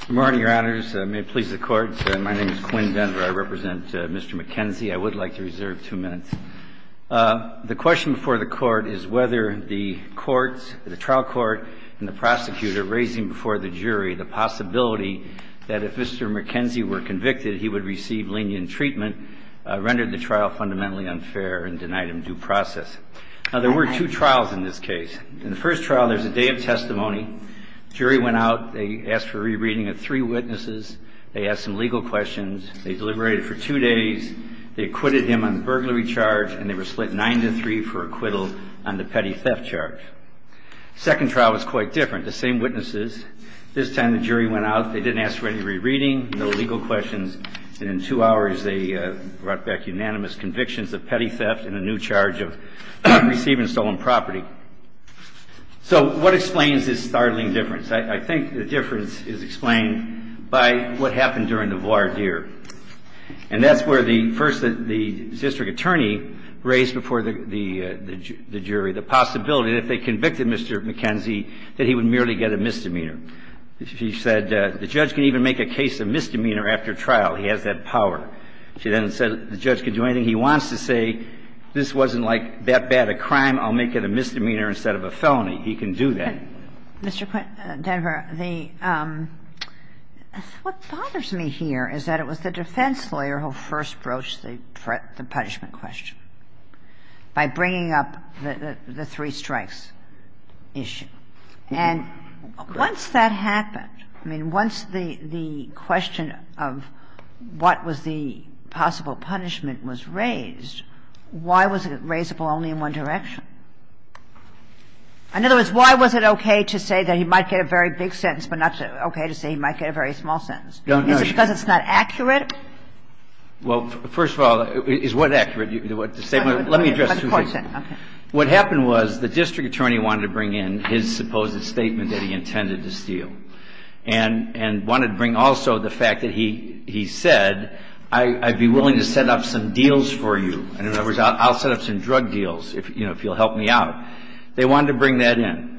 Good morning, your honors. May it please the court. My name is Quinn Denver. I represent Mr. McKenzie. I would like to reserve two minutes. The question before the court is whether the trial court and the prosecutor raising before the jury the possibility that if Mr. McKenzie were convicted, he would receive lenient treatment rendered the trial fundamentally unfair and denied him due process. Now, there were two trials in this case. In the first trial, there's a day of testimony. The jury went out. They asked for a rereading of three witnesses. They asked some legal questions. They deliberated for two days. They acquitted him on the burglary charge, and they were split nine to three for acquittal on the petty theft charge. The second trial was quite different. The same witnesses. This time, the jury went out. They didn't ask for any rereading, no legal questions. And in two hours, they brought back unanimous convictions of petty theft and a new charge of receiving stolen property. So what explains this startling difference? I think the difference is explained by what happened during the voir dire. And that's where the first the district attorney raised before the jury the possibility that if they convicted Mr. McKenzie, that he would merely get a misdemeanor. She said the judge can even make a case of misdemeanor after trial. He has that power. She then said the judge can do anything he wants to say. This wasn't like that bad a crime. I'll make it a misdemeanor instead of a felony. He can do that. Mr. Denver, the – what bothers me here is that it was the defense lawyer who first broached the punishment question by bringing up the three strikes issue. And once that happened, I mean, once the question of what was the possible punishment was raised, why was it raisable only in one direction? In other words, why was it okay to say that he might get a very big sentence but not okay to say he might get a very small sentence? Is it because it's not accurate? Well, first of all, is what accurate? Let me address two things. First of all, what happened was the district attorney wanted to bring in his supposed statement that he intended to steal and wanted to bring also the fact that he said, I'd be willing to set up some deals for you. And in other words, I'll set up some drug deals, you know, if you'll help me out. They wanted to bring that in.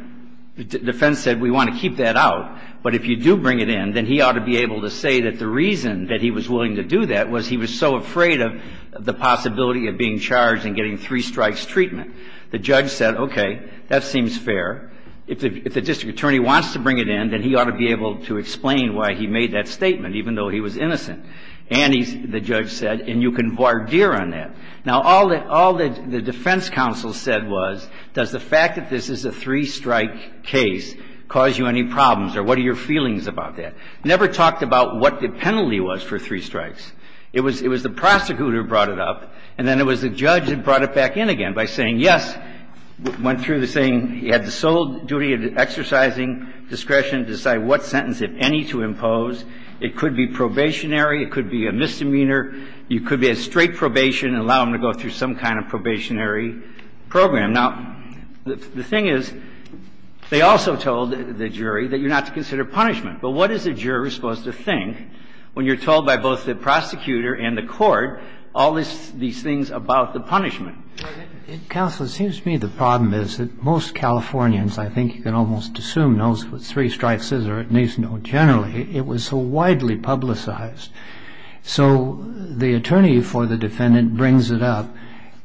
The defense said we want to keep that out, but if you do bring it in, then he ought to be able to say that the reason that he was willing to do that was he was so afraid of the possibility of being charged and getting three strikes treatment. The judge said, okay, that seems fair. If the district attorney wants to bring it in, then he ought to be able to explain why he made that statement, even though he was innocent. And the judge said, and you can voir dire on that. Now, all the defense counsel said was, does the fact that this is a three-strike case cause you any problems, or what are your feelings about that? Never talked about what the penalty was for three strikes. It was the prosecutor who brought it up, and then it was the judge who brought it back in again by saying, yes, went through the thing. He had the sole duty of exercising discretion to decide what sentence, if any, to impose. It could be probationary. It could be a misdemeanor. It could be a straight probation and allow him to go through some kind of probationary program. Now, the thing is, they also told the jury that you're not to consider punishment. But what is a juror supposed to think when you're told by both the prosecutor and the court all these things about the punishment? Counsel, it seems to me the problem is that most Californians, I think you can almost assume, knows what three strikes is or at least know generally. It was so widely publicized. So the attorney for the defendant brings it up.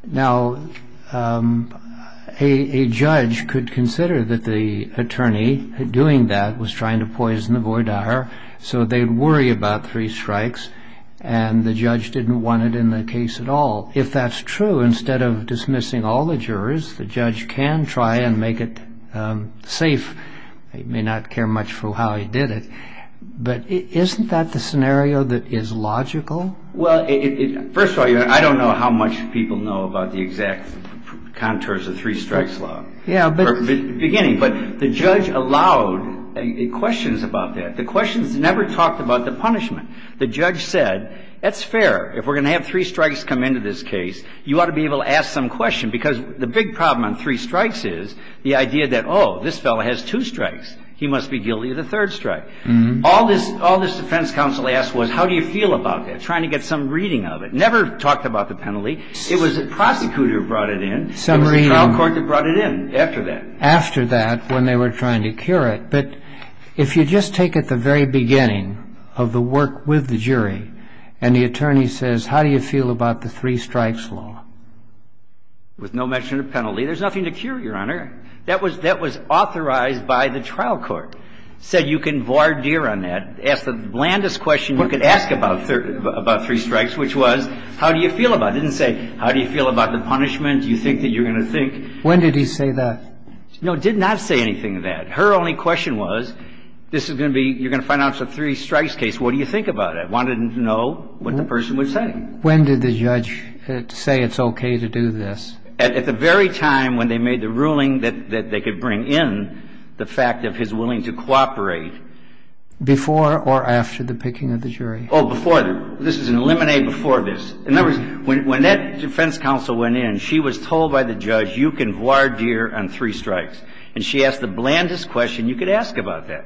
Now, a judge could consider that the attorney doing that was trying to poison the voir dire, so they'd worry about three strikes, and the judge didn't want it in the case at all. If that's true, instead of dismissing all the jurors, the judge can try and make it safe. He may not care much for how he did it. But isn't that the scenario that is logical? Well, first of all, I don't know how much people know about the exact contours of three strikes law. Yeah. Beginning. But the judge allowed questions about that. The questions never talked about the punishment. The judge said, that's fair. If we're going to have three strikes come into this case, you ought to be able to ask some question, because the big problem on three strikes is the idea that, oh, this fellow has two strikes. He must be guilty of the third strike. All this defense counsel asked was, how do you feel about that? Trying to get some reading of it. Never talked about the penalty. It was the prosecutor who brought it in. It was the trial court that brought it in after that. After that, when they were trying to cure it. But if you just take at the very beginning of the work with the jury, and the attorney says, how do you feel about the three strikes law? With no mention of penalty. There's nothing to cure, Your Honor. That was authorized by the trial court. Said you can voir dire on that. Ask the blandest question you could ask about three strikes, which was, how do you feel about it? Didn't say, how do you feel about the punishment? Do you think that you're going to think? When did he say that? No, did not say anything of that. Her only question was, this is going to be, you're going to finance a three strikes case. What do you think about it? Wanted to know what the person was saying. When did the judge say it's OK to do this? At the very time when they made the ruling that they could bring in the fact of his willing to cooperate. Before or after the picking of the jury? Oh, before. This is an eliminate before this. In other words, when that defense counsel went in, she was told by the judge, you can voir dire on three strikes. And she asked the blandest question you could ask about that.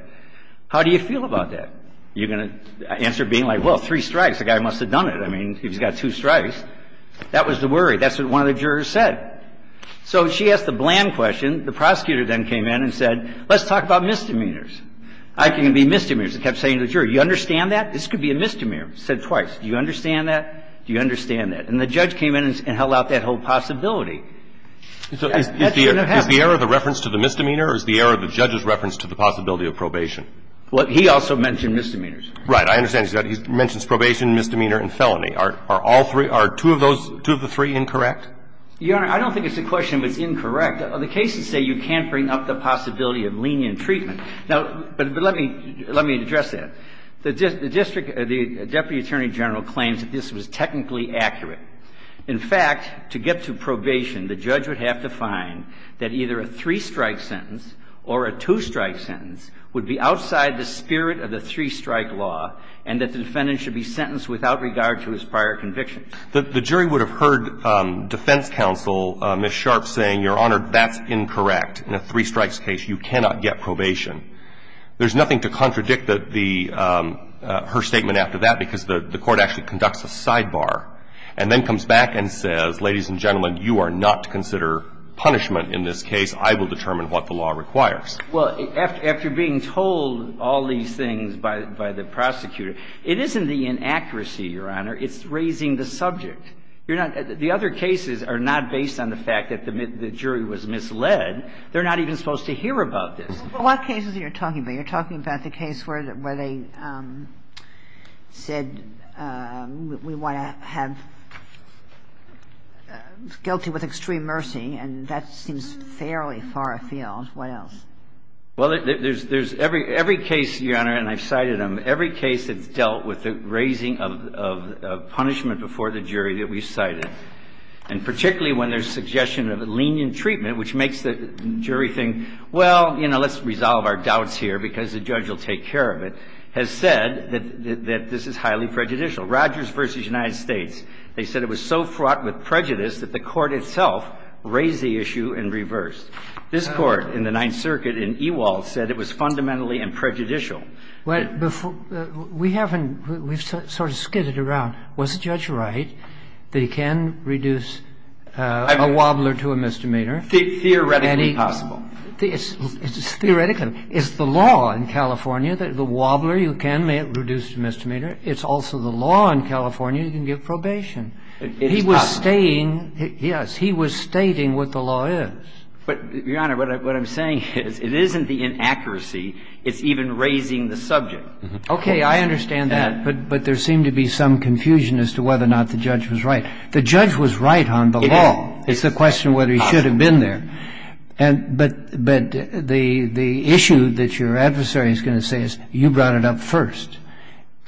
How do you feel about that? You're going to answer being like, well, three strikes. The guy must have done it. I mean, he's got two strikes. That was the worry. That's what one of the jurors said. So she asked the bland question. The prosecutor then came in and said, let's talk about misdemeanors. I think it would be misdemeanors. He kept saying to the jury, you understand that? This could be a misdemeanor. He said twice. Do you understand that? Do you understand that? And the judge came in and held out that whole possibility. That did not happen. Is the error the reference to the misdemeanor or is the error the judge's reference to the possibility of probation? Well, he also mentioned misdemeanors. Right. I understand. He mentions probation, misdemeanor and felony. Are all three, are two of those, two of the three, incorrect? Your Honor, I don't think it's a question if it's incorrect. The cases say you can't bring up the possibility of lenient treatment. Now, but let me address that. The district, the Deputy Attorney General claims that this was technically accurate. In fact, to get to probation, the judge would have to find that either a three-strike sentence or a two-strike sentence would be outside the spirit of the three-strike law and that the defendant should be sentenced without regard to his prior convictions. The jury would have heard defense counsel, Ms. Sharp, saying, Your Honor, that's incorrect. In a three-strikes case, you cannot get probation. There's nothing to contradict her statement after that because the court actually conducts a sidebar and then comes back and says, ladies and gentlemen, you are not to consider punishment in this case. I will determine what the law requires. Well, after being told all these things by the prosecutor, it isn't the inaccuracy, Your Honor. It's raising the subject. You're not – the other cases are not based on the fact that the jury was misled. They're not even supposed to hear about this. Well, what cases are you talking about? You're talking about the case where they said we want to have guilty with extreme mercy, and that seems fairly far afield. What else? Well, there's every case, Your Honor, and I've cited them, every case that's dealt with the raising of punishment before the jury that we've cited, and particularly when there's suggestion of lenient treatment, which makes the jury think, well, you know, let's resolve our doubts here because the judge will take care of it, has said that this is highly prejudicial. Rogers v. United States, they said it was so fraught with prejudice that the court itself raised the issue and reversed. This Court in the Ninth Circuit in Ewald said it was fundamentally and prejudicial. Well, before – we haven't – we've sort of skidded around. Was the judge right that he can reduce a wobbler to a misdemeanor? Theoretically possible. Theoretically. It's the law in California that the wobbler, you can, may it reduce the misdemeanor. It's also the law in California you can give probation. It's possible. He was stating – yes, he was stating what the law is. But, Your Honor, what I'm saying is it isn't the inaccuracy. It's even raising the subject. Okay, I understand that, but there seemed to be some confusion as to whether or not the judge was right. The judge was right on the law. It's a question of whether he should have been there. But the issue that your adversary is going to say is you brought it up first,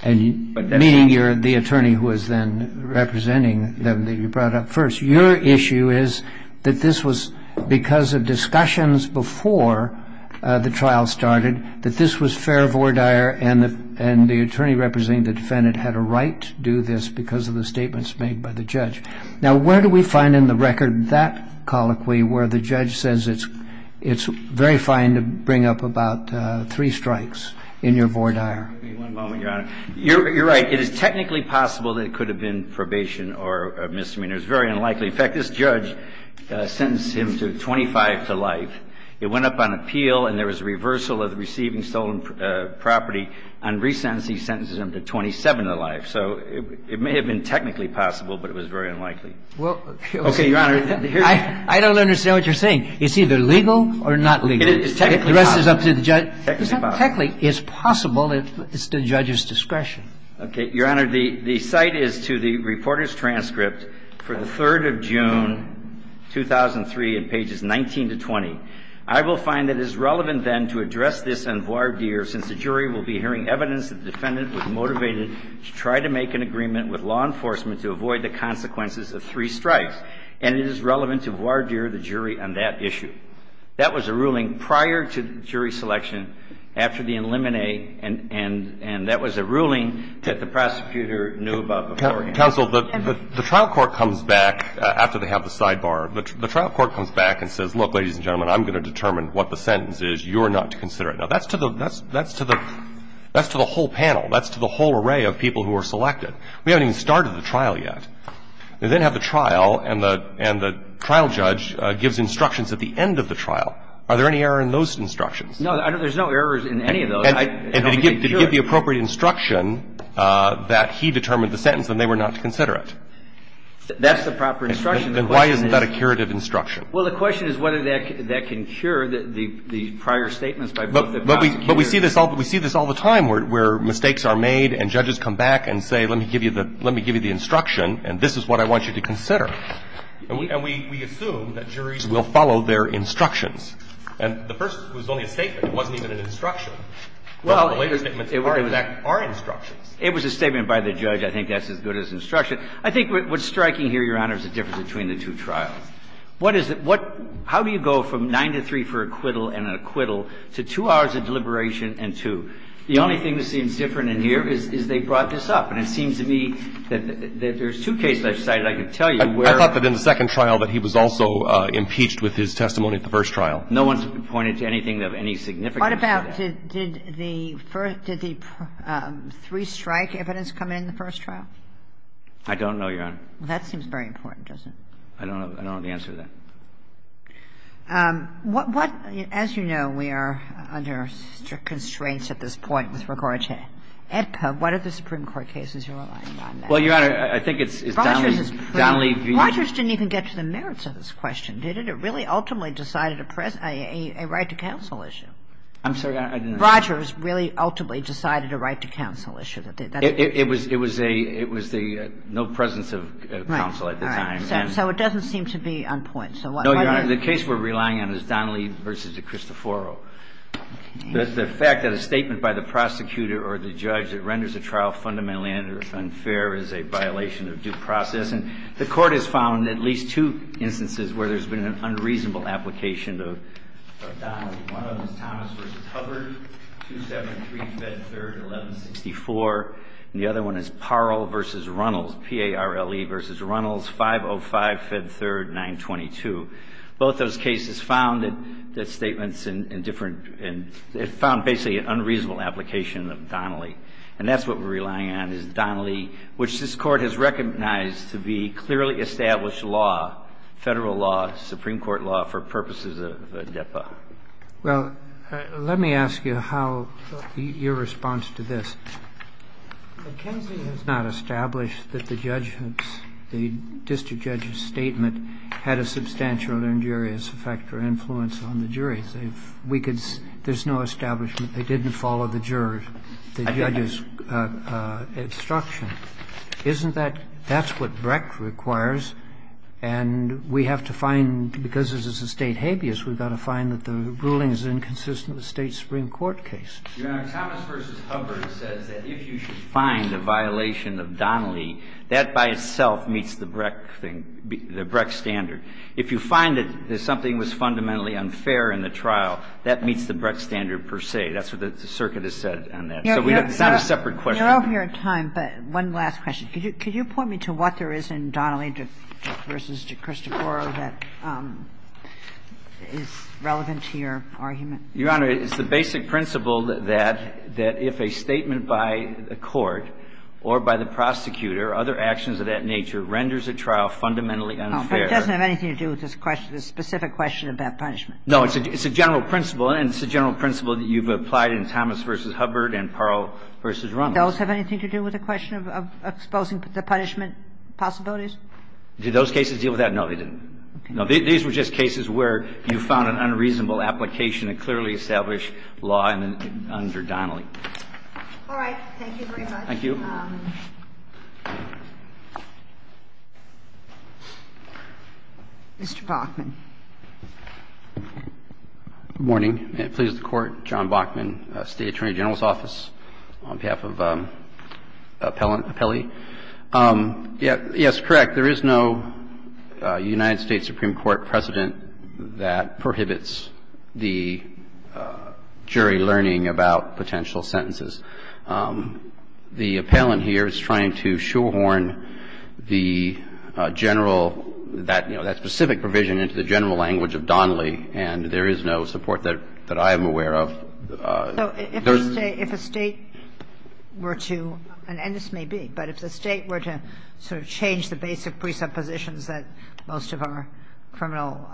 meaning you're the attorney who is then representing them, that you brought it up first. Your issue is that this was because of discussions before the trial started, that this was fair voir dire, and the attorney representing the defendant had a right to do this because of the statements made by the judge. Now, where do we find in the record that colloquy where the judge says it's very fine to bring up about three strikes in your voir dire? Give me one moment, Your Honor. You're right. It is technically possible that it could have been probation or a misdemeanor. It's very unlikely. In fact, this judge sentenced him to 25 to life. It went up on appeal, and there was a reversal of the receiving stolen property. On resentencing, he sentences him to 27 to life. So it may have been technically possible, but it was very unlikely. Okay, Your Honor. I don't understand what you're saying. It's either legal or not legal. It's technically possible. The rest is up to the judge. It's not technically. It's possible. It's at the judge's discretion. Okay, Your Honor. The cite is to the reporter's transcript for the 3rd of June, 2003, in pages 19 to 20. I will find it is relevant, then, to address this in voir dire since the jury will be hearing evidence that the defendant was motivated to try to make an agreement with law enforcement to avoid the consequences of three strikes, and it is relevant to voir dire the jury on that issue. That was a ruling prior to jury selection after the preliminary, and that was a ruling that the prosecutor knew about beforehand. Counsel, the trial court comes back after they have the sidebar. The trial court comes back and says, look, ladies and gentlemen, I'm going to determine what the sentence is. You are not to consider it. Now, that's to the whole panel. That's to the whole array of people who were selected. We haven't even started the trial yet. They then have the trial, and the trial judge gives instructions at the end of the trial. Are there any errors in those instructions? No, there's no errors in any of those. And did he give the appropriate instruction that he determined the sentence and they were not to consider it? That's the proper instruction. Then why isn't that a curative instruction? Well, the question is whether that can cure the prior statements by both the prosecutors. But we see this all the time where mistakes are made and judges come back and say, let me give you the instruction and this is what I want you to consider. And we assume that juries will follow their instructions. And the first was only a statement. It wasn't even an instruction. Well, it was a statement by the judge. I think that's as good as instruction. I think what's striking here, Your Honor, is the difference between the two trials. What is it? How do you go from nine to three for acquittal and an acquittal to two hours of deliberation and two? The only thing that seems different in here is they brought this up. And it seems to me that there's two cases I've cited I can tell you where. I thought that in the second trial that he was also impeached with his testimony at the first trial. No one's pointed to anything of any significance. What about did the three-strike evidence come in the first trial? I don't know, Your Honor. Well, that seems very important, doesn't it? I don't know the answer to that. As you know, we are under strict constraints at this point with regard to AEDPA. What are the Supreme Court cases you're relying on? Well, Your Honor, I think it's Donnelly v. Rogers didn't even get to the merits of this question, did it? It really ultimately decided a right to counsel issue. I'm sorry. Rogers really ultimately decided a right to counsel issue. It was the no presence of counsel at the time. So it doesn't seem to be on point. No, Your Honor. The case we're relying on is Donnelly v. Cristoforo. The fact that a statement by the prosecutor or the judge that renders a trial fundamentally unfair is a violation of due process. And the Court has found at least two instances where there's been an unreasonable application of Donnelly. One of them is Thomas v. Hubbard, 273, Fed 3rd, 1164. And the other one is Parle v. Runnels, P-A-R-L-E v. Runnels, 505, Fed 3rd, 922. Both those cases found that statements in different – found basically an unreasonable application of Donnelly. And that's what we're relying on is Donnelly, which this Court has recognized to be clearly established law, Federal law, Supreme Court law, for purposes of AEDPA. Well, let me ask you how – your response to this. McKenzie has not established that the judge – the district judge's statement had a substantial injurious effect or influence on the jury. We could – there's no establishment they didn't follow the jurors – the judges' instruction. Isn't that – that's what Brecht requires. And we have to find – because this is a State habeas, we've got to find that the ruling is inconsistent with the State Supreme Court case. Your Honor, Thomas v. Hubbard says that if you should find a violation of Donnelly, that by itself meets the Brecht thing – the Brecht standard. If you find that something was fundamentally unfair in the trial, that meets the Brecht standard per se. That's what the circuit has said on that. So it's not a separate question. You're over your time, but one last question. Could you point me to what there is in Donnelly v. Cristoforo that is relevant to your argument? Your Honor, it's the basic principle that if a statement by a court or by the prosecutor or other actions of that nature renders a trial fundamentally unfair – No, but it doesn't have anything to do with this question, this specific question about punishment. No, it's a general principle, and it's a general principle that you've applied in Thomas v. Hubbard and Parle v. Runnels. Does those have anything to do with the question of exposing the punishment possibilities? Did those cases deal with that? No, they didn't. Okay. No, these were just cases where you found an unreasonable application to clearly establish law under Donnelly. All right. Thank you very much. Thank you. Mr. Bachman. Good morning. May it please the Court. John Bachman, State Attorney General's Office, on behalf of Appellee. Yes, correct. There is no United States Supreme Court precedent that prohibits the jury learning about potential sentences. The appellant here is trying to shoehorn the general, that specific provision into the general language of Donnelly, and there is no support that I am aware of. So if a State were to, and this may be, but if the State were to sort of change the basic presuppositions that most of our criminal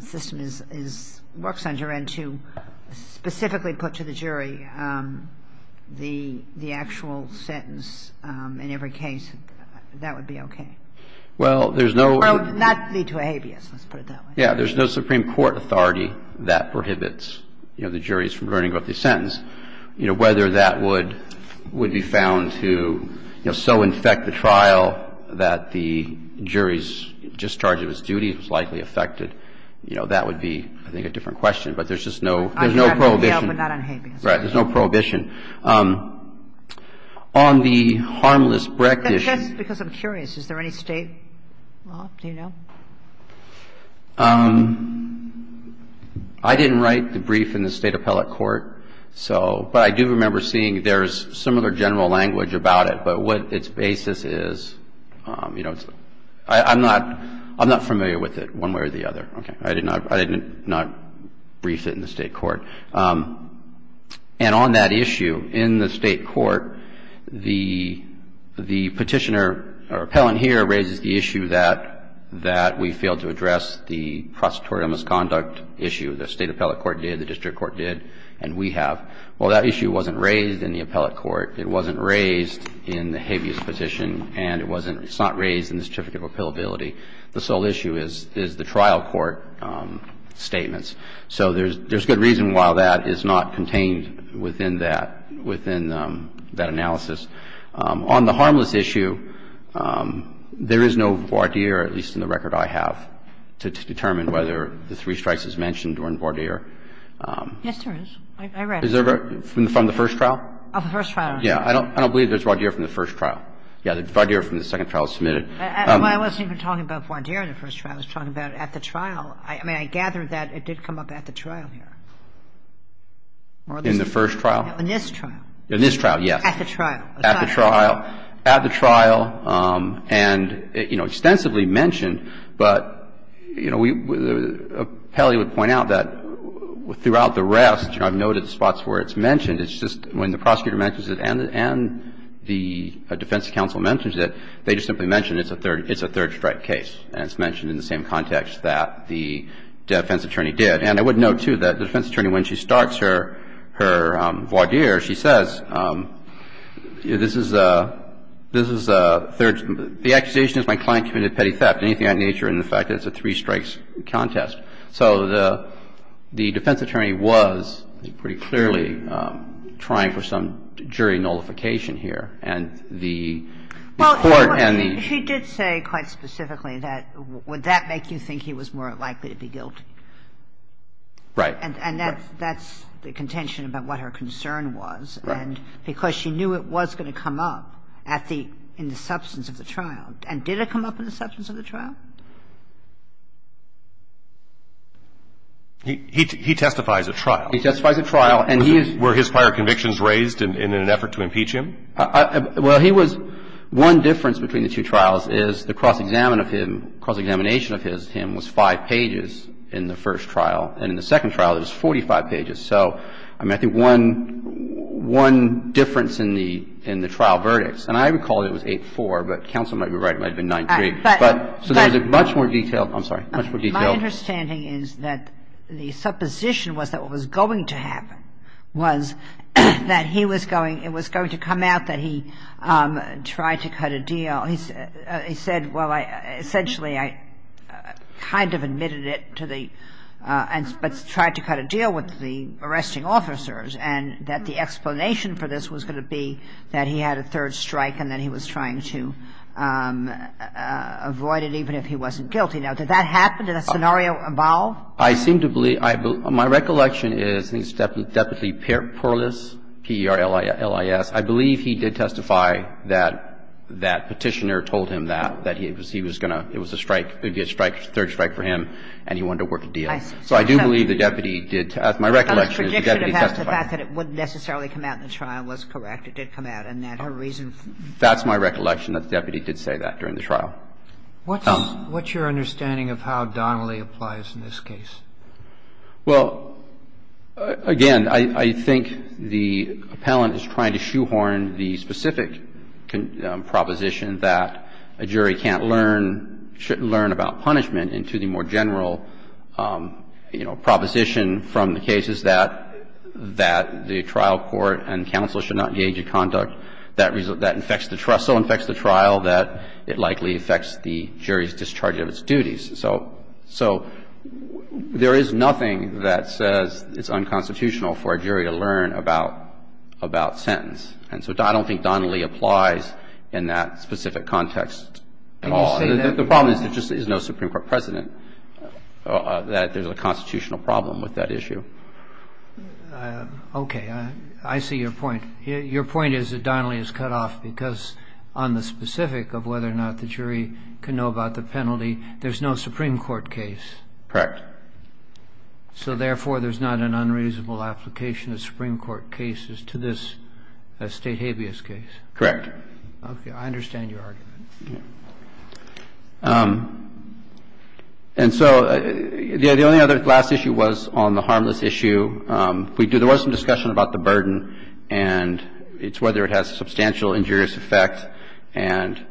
system is, works under and to specifically put to the jury the actual sentence in every case, that would be okay? Well, there's no – Well, that would not lead to a habeas. Let's put it that way. Yeah. There's no Supreme Court authority that prohibits, you know, the juries from learning about the sentence. You know, whether that would be found to, you know, so infect the trial that the jury's discharge of its duty was likely affected, you know, that would be, I think, a different question. But there's just no – there's no prohibition. But not on habeas. There's no prohibition. On the harmless breck issue – Just because I'm curious. Is there any State law? Do you know? I didn't write the brief in the State appellate court. So – but I do remember seeing there's similar general language about it. But what its basis is, you know, it's – I'm not – I'm not familiar with it one way or the other. Okay. I did not – I did not brief it in the State court. And on that issue, in the State court, the petitioner or appellant here raises the issue that – that we failed to address the prosecutorial misconduct issue. The State appellate court did. The district court did. And we have. Well, that issue wasn't raised in the appellate court. It wasn't raised in the habeas petition. And it wasn't – it's not raised in the certificate of appealability. The sole issue is the trial court statements. So there's – there's good reason why that is not contained within that – within that analysis. On the harmless issue, there is no voir dire, at least in the record I have, to determine whether the three strikes is mentioned or in voir dire. Yes, there is. I read it. Is there from the first trial? Of the first trial. Yeah. I don't believe there's voir dire from the first trial. Yeah. The voir dire from the second trial is submitted. I wasn't even talking about voir dire in the first trial. I was talking about at the trial. Well, I mean, I gather that it did come up at the trial here. In the first trial? No, in this trial. In this trial, yes. At the trial. At the trial. At the trial. And, you know, extensively mentioned, but, you know, we – Pelley would point out that throughout the rest, you know, I've noted spots where it's mentioned. It's just when the prosecutor mentions it and the defense counsel mentions it, they just simply mention it's a third – it's a third strike case. And it's mentioned in the same context that the defense attorney did. And I would note, too, that the defense attorney, when she starts her voir dire, she says, this is a – this is a third – the accusation is my client committed petty theft. Anything of that nature and the fact that it's a three strikes contest. So the defense attorney was pretty clearly trying for some jury nullification here. And the court and the – The question is, would that make you think he was more likely to be guilty? Right. Right. And that – that's the contention about what her concern was. Right. And because she knew it was going to come up at the – in the substance of the trial. And did it come up in the substance of the trial? He – he testifies at trial. He testifies at trial, and he is – Were his prior convictions raised in an effort to impeach him? Well, he was – one difference between the two trials is the cross-examination of him was five pages in the first trial. And in the second trial, it was 45 pages. So, I mean, I think one – one difference in the – in the trial verdicts. And I recall it was 8-4, but counsel might be right, it might have been 9-3. But – So there was a much more detailed – I'm sorry, much more detailed – My understanding is that the supposition was that what was going to happen was that he was going – it was going to come out that he tried to cut a deal. He said, well, I – essentially, I kind of admitted it to the – but tried to cut a deal with the arresting officers, and that the explanation for this was going to be that he had a third strike and that he was trying to avoid it, even if he wasn't guilty. Now, did that happen? Did that scenario evolve? I seem to believe – I – my recollection is that Deputy Perlis, P-E-R-L-I-S, I believe he did testify that that Petitioner told him that, that he was going to – it was a strike, a third strike for him, and he wanted to work a deal. So I do believe the deputy did – my recollection is the deputy testified. The fact that it wouldn't necessarily come out in the trial was correct. It did come out, and that her reason for – That's my recollection, that the deputy did say that during the trial. What's your understanding of how Donnelly applies in this case? Well, again, I think the appellant is trying to shoehorn the specific proposition that a jury can't learn – shouldn't learn about punishment into the more general, you know, proposition from the cases that the trial court and counsel should not engage in. And so I don't think Donnelly applies in that specific context at all. The problem is there just is no Supreme Court precedent that there's a constitutional problem with that issue. Okay. I don't think Donnelly applies in that specific context at all. My point is that Donnelly is cut off because on the specific of whether or not the jury can know about the penalty, there's no Supreme Court case. Correct. So therefore, there's not an unreasonable application of Supreme Court cases to this State habeas case. Correct. Okay. I understand your argument. And so the only other last issue was on the harmless issue. There was some discussion about the burden, and it's whether it has substantial injurious effect. And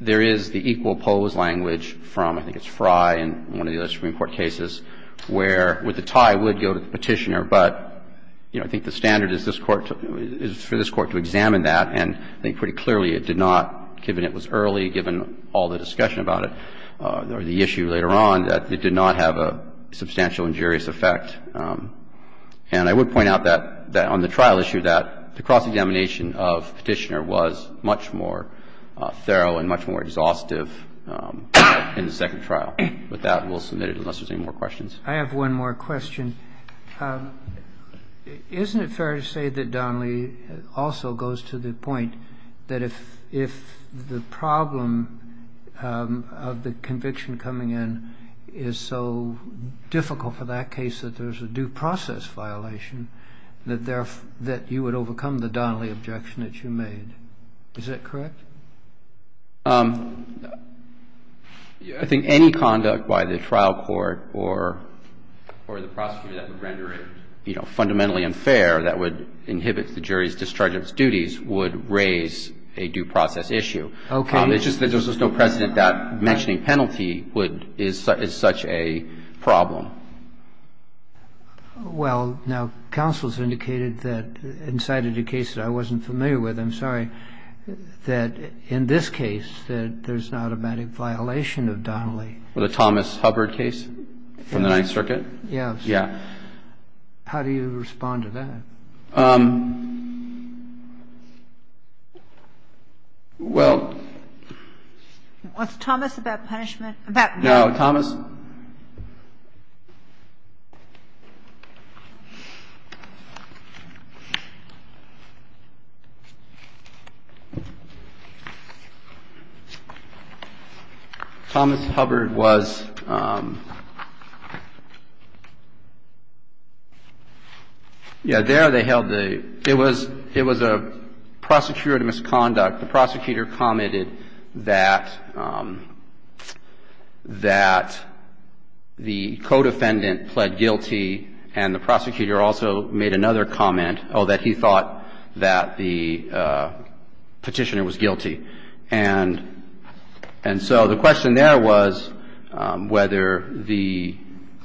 there is the equal oppose language from, I think it's Frye and one of the other Supreme Court cases, where with the tie would go to the Petitioner. But, you know, I think the standard is this Court to – is for this Court to examine that, and I think pretty clearly it did not, given it was early, given all the discussion about it or the issue later on, that it did not have a substantial injurious effect. And I would point out that on the trial issue, that the cross-examination of Petitioner was much more thorough and much more exhaustive in the second trial. With that, we'll submit it unless there's any more questions. I have one more question. Isn't it fair to say that Donnelly also goes to the point that if the problem of the conviction coming in is so difficult for that case that there's a due process violation, that you would overcome the Donnelly objection that you made? Is that correct? I think any conduct by the trial court or the prosecutor that would render it, you know, fundamentally unfair, that would inhibit the jury's discharge of its duties, would raise a due process issue. Okay. It's just that there's no precedent that mentioning penalty is such a problem. Well, now, counsel's indicated that, in sight of the case that I wasn't familiar with, I'm sorry, that in this case that there's an automatic violation of Donnelly. The Thomas Hubbard case from the Ninth Circuit? Yes. Yeah. How do you respond to that? Well. Was Thomas about punishment? No. Thomas Hubbard was. Yeah. And so there they held the, it was a prosecutor misconduct. The prosecutor commented that the co-defendant pled guilty, and the prosecutor also made another comment, oh, that he thought that the petitioner was guilty. And so the question there was whether the,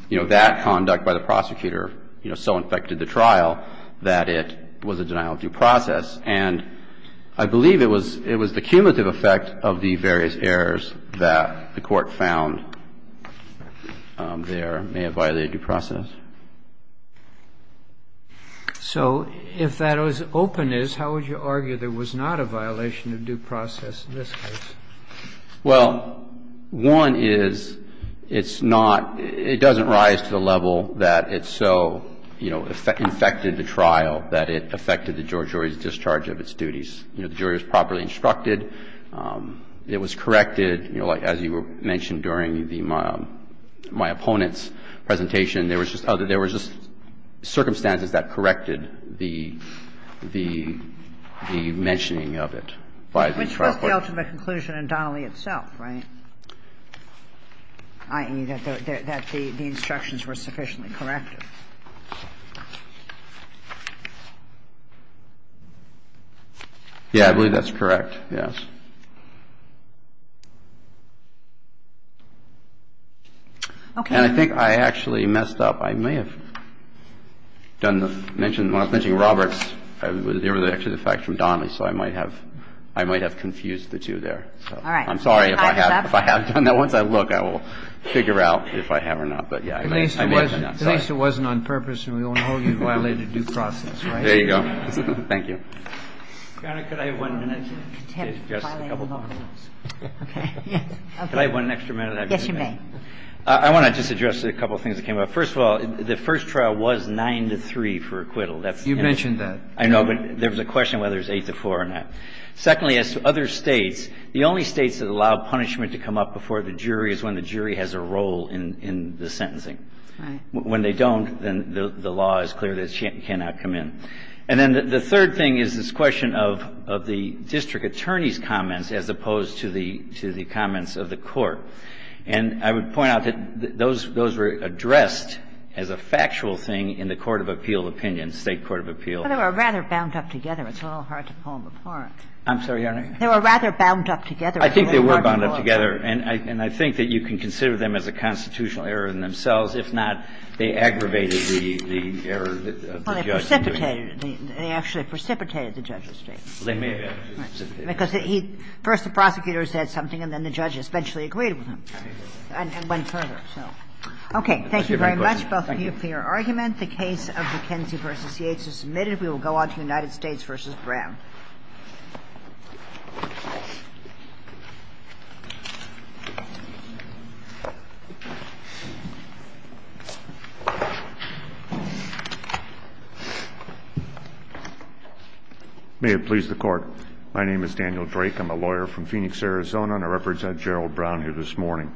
you know, that conduct by the prosecutor so infected the trial that it was a denial of due process. And I believe it was the cumulative effect of the various errors that the Court found there may have violated due process. So if that was openness, how would you argue there was not a violation of due process in this case? Well, one is it's not, it doesn't rise to the level that it so, you know, infected the trial that it affected the jury's discharge of its duties. You know, the jury was properly instructed. It was corrected, you know, as you mentioned during the, my opponent's presentation, there was just circumstances that corrected the mentioning of it by the trial. And I think that's the ultimate conclusion in Donnelly itself, right? I mean, that the instructions were sufficiently corrected. Yeah, I believe that's correct, yes. Okay. And I think I actually messed up. I may have done the mention, when I was mentioning Roberts, there was actually a cumulative effect from Donnelly. So I might have confused the two there. All right. I'm sorry if I have done that. Once I look, I will figure out if I have or not. But, yeah, I may have done that. At least it wasn't on purpose, and we all know you violated due process, right? There you go. Thank you. Your Honor, could I have one minute to address a couple of other things? Okay. Can I have one extra minute? Yes, you may. I want to just address a couple of things that came up. First of all, the first trial was 9-3 for acquittal. You've mentioned that. I know, but there was a question whether it's 8-4 or not. Secondly, as to other States, the only States that allow punishment to come up before the jury is when the jury has a role in the sentencing. Right. When they don't, then the law is clear that it cannot come in. And then the third thing is this question of the district attorney's comments as opposed to the comments of the court. And I would point out that those were addressed as a factual thing in the court of appeal opinion, State court of appeal. They were rather bound up together. It's a little hard to pull them apart. I'm sorry, Your Honor. They were rather bound up together. I think they were bound up together. And I think that you can consider them as a constitutional error in themselves. If not, they aggravated the error of the judge. Well, they precipitated it. They actually precipitated the judge's statement. They may have actually precipitated it. Because he – first the prosecutor said something and then the judge eventually agreed with him. And went further, so. Okay. Thank you very much, both of you, for your argument. The case of McKenzie v. Yates is submitted. We will go on to United States v. Brown. May it please the Court. My name is Daniel Drake. I'm a lawyer from Phoenix, Arizona. And I represent Gerald Brown here this morning.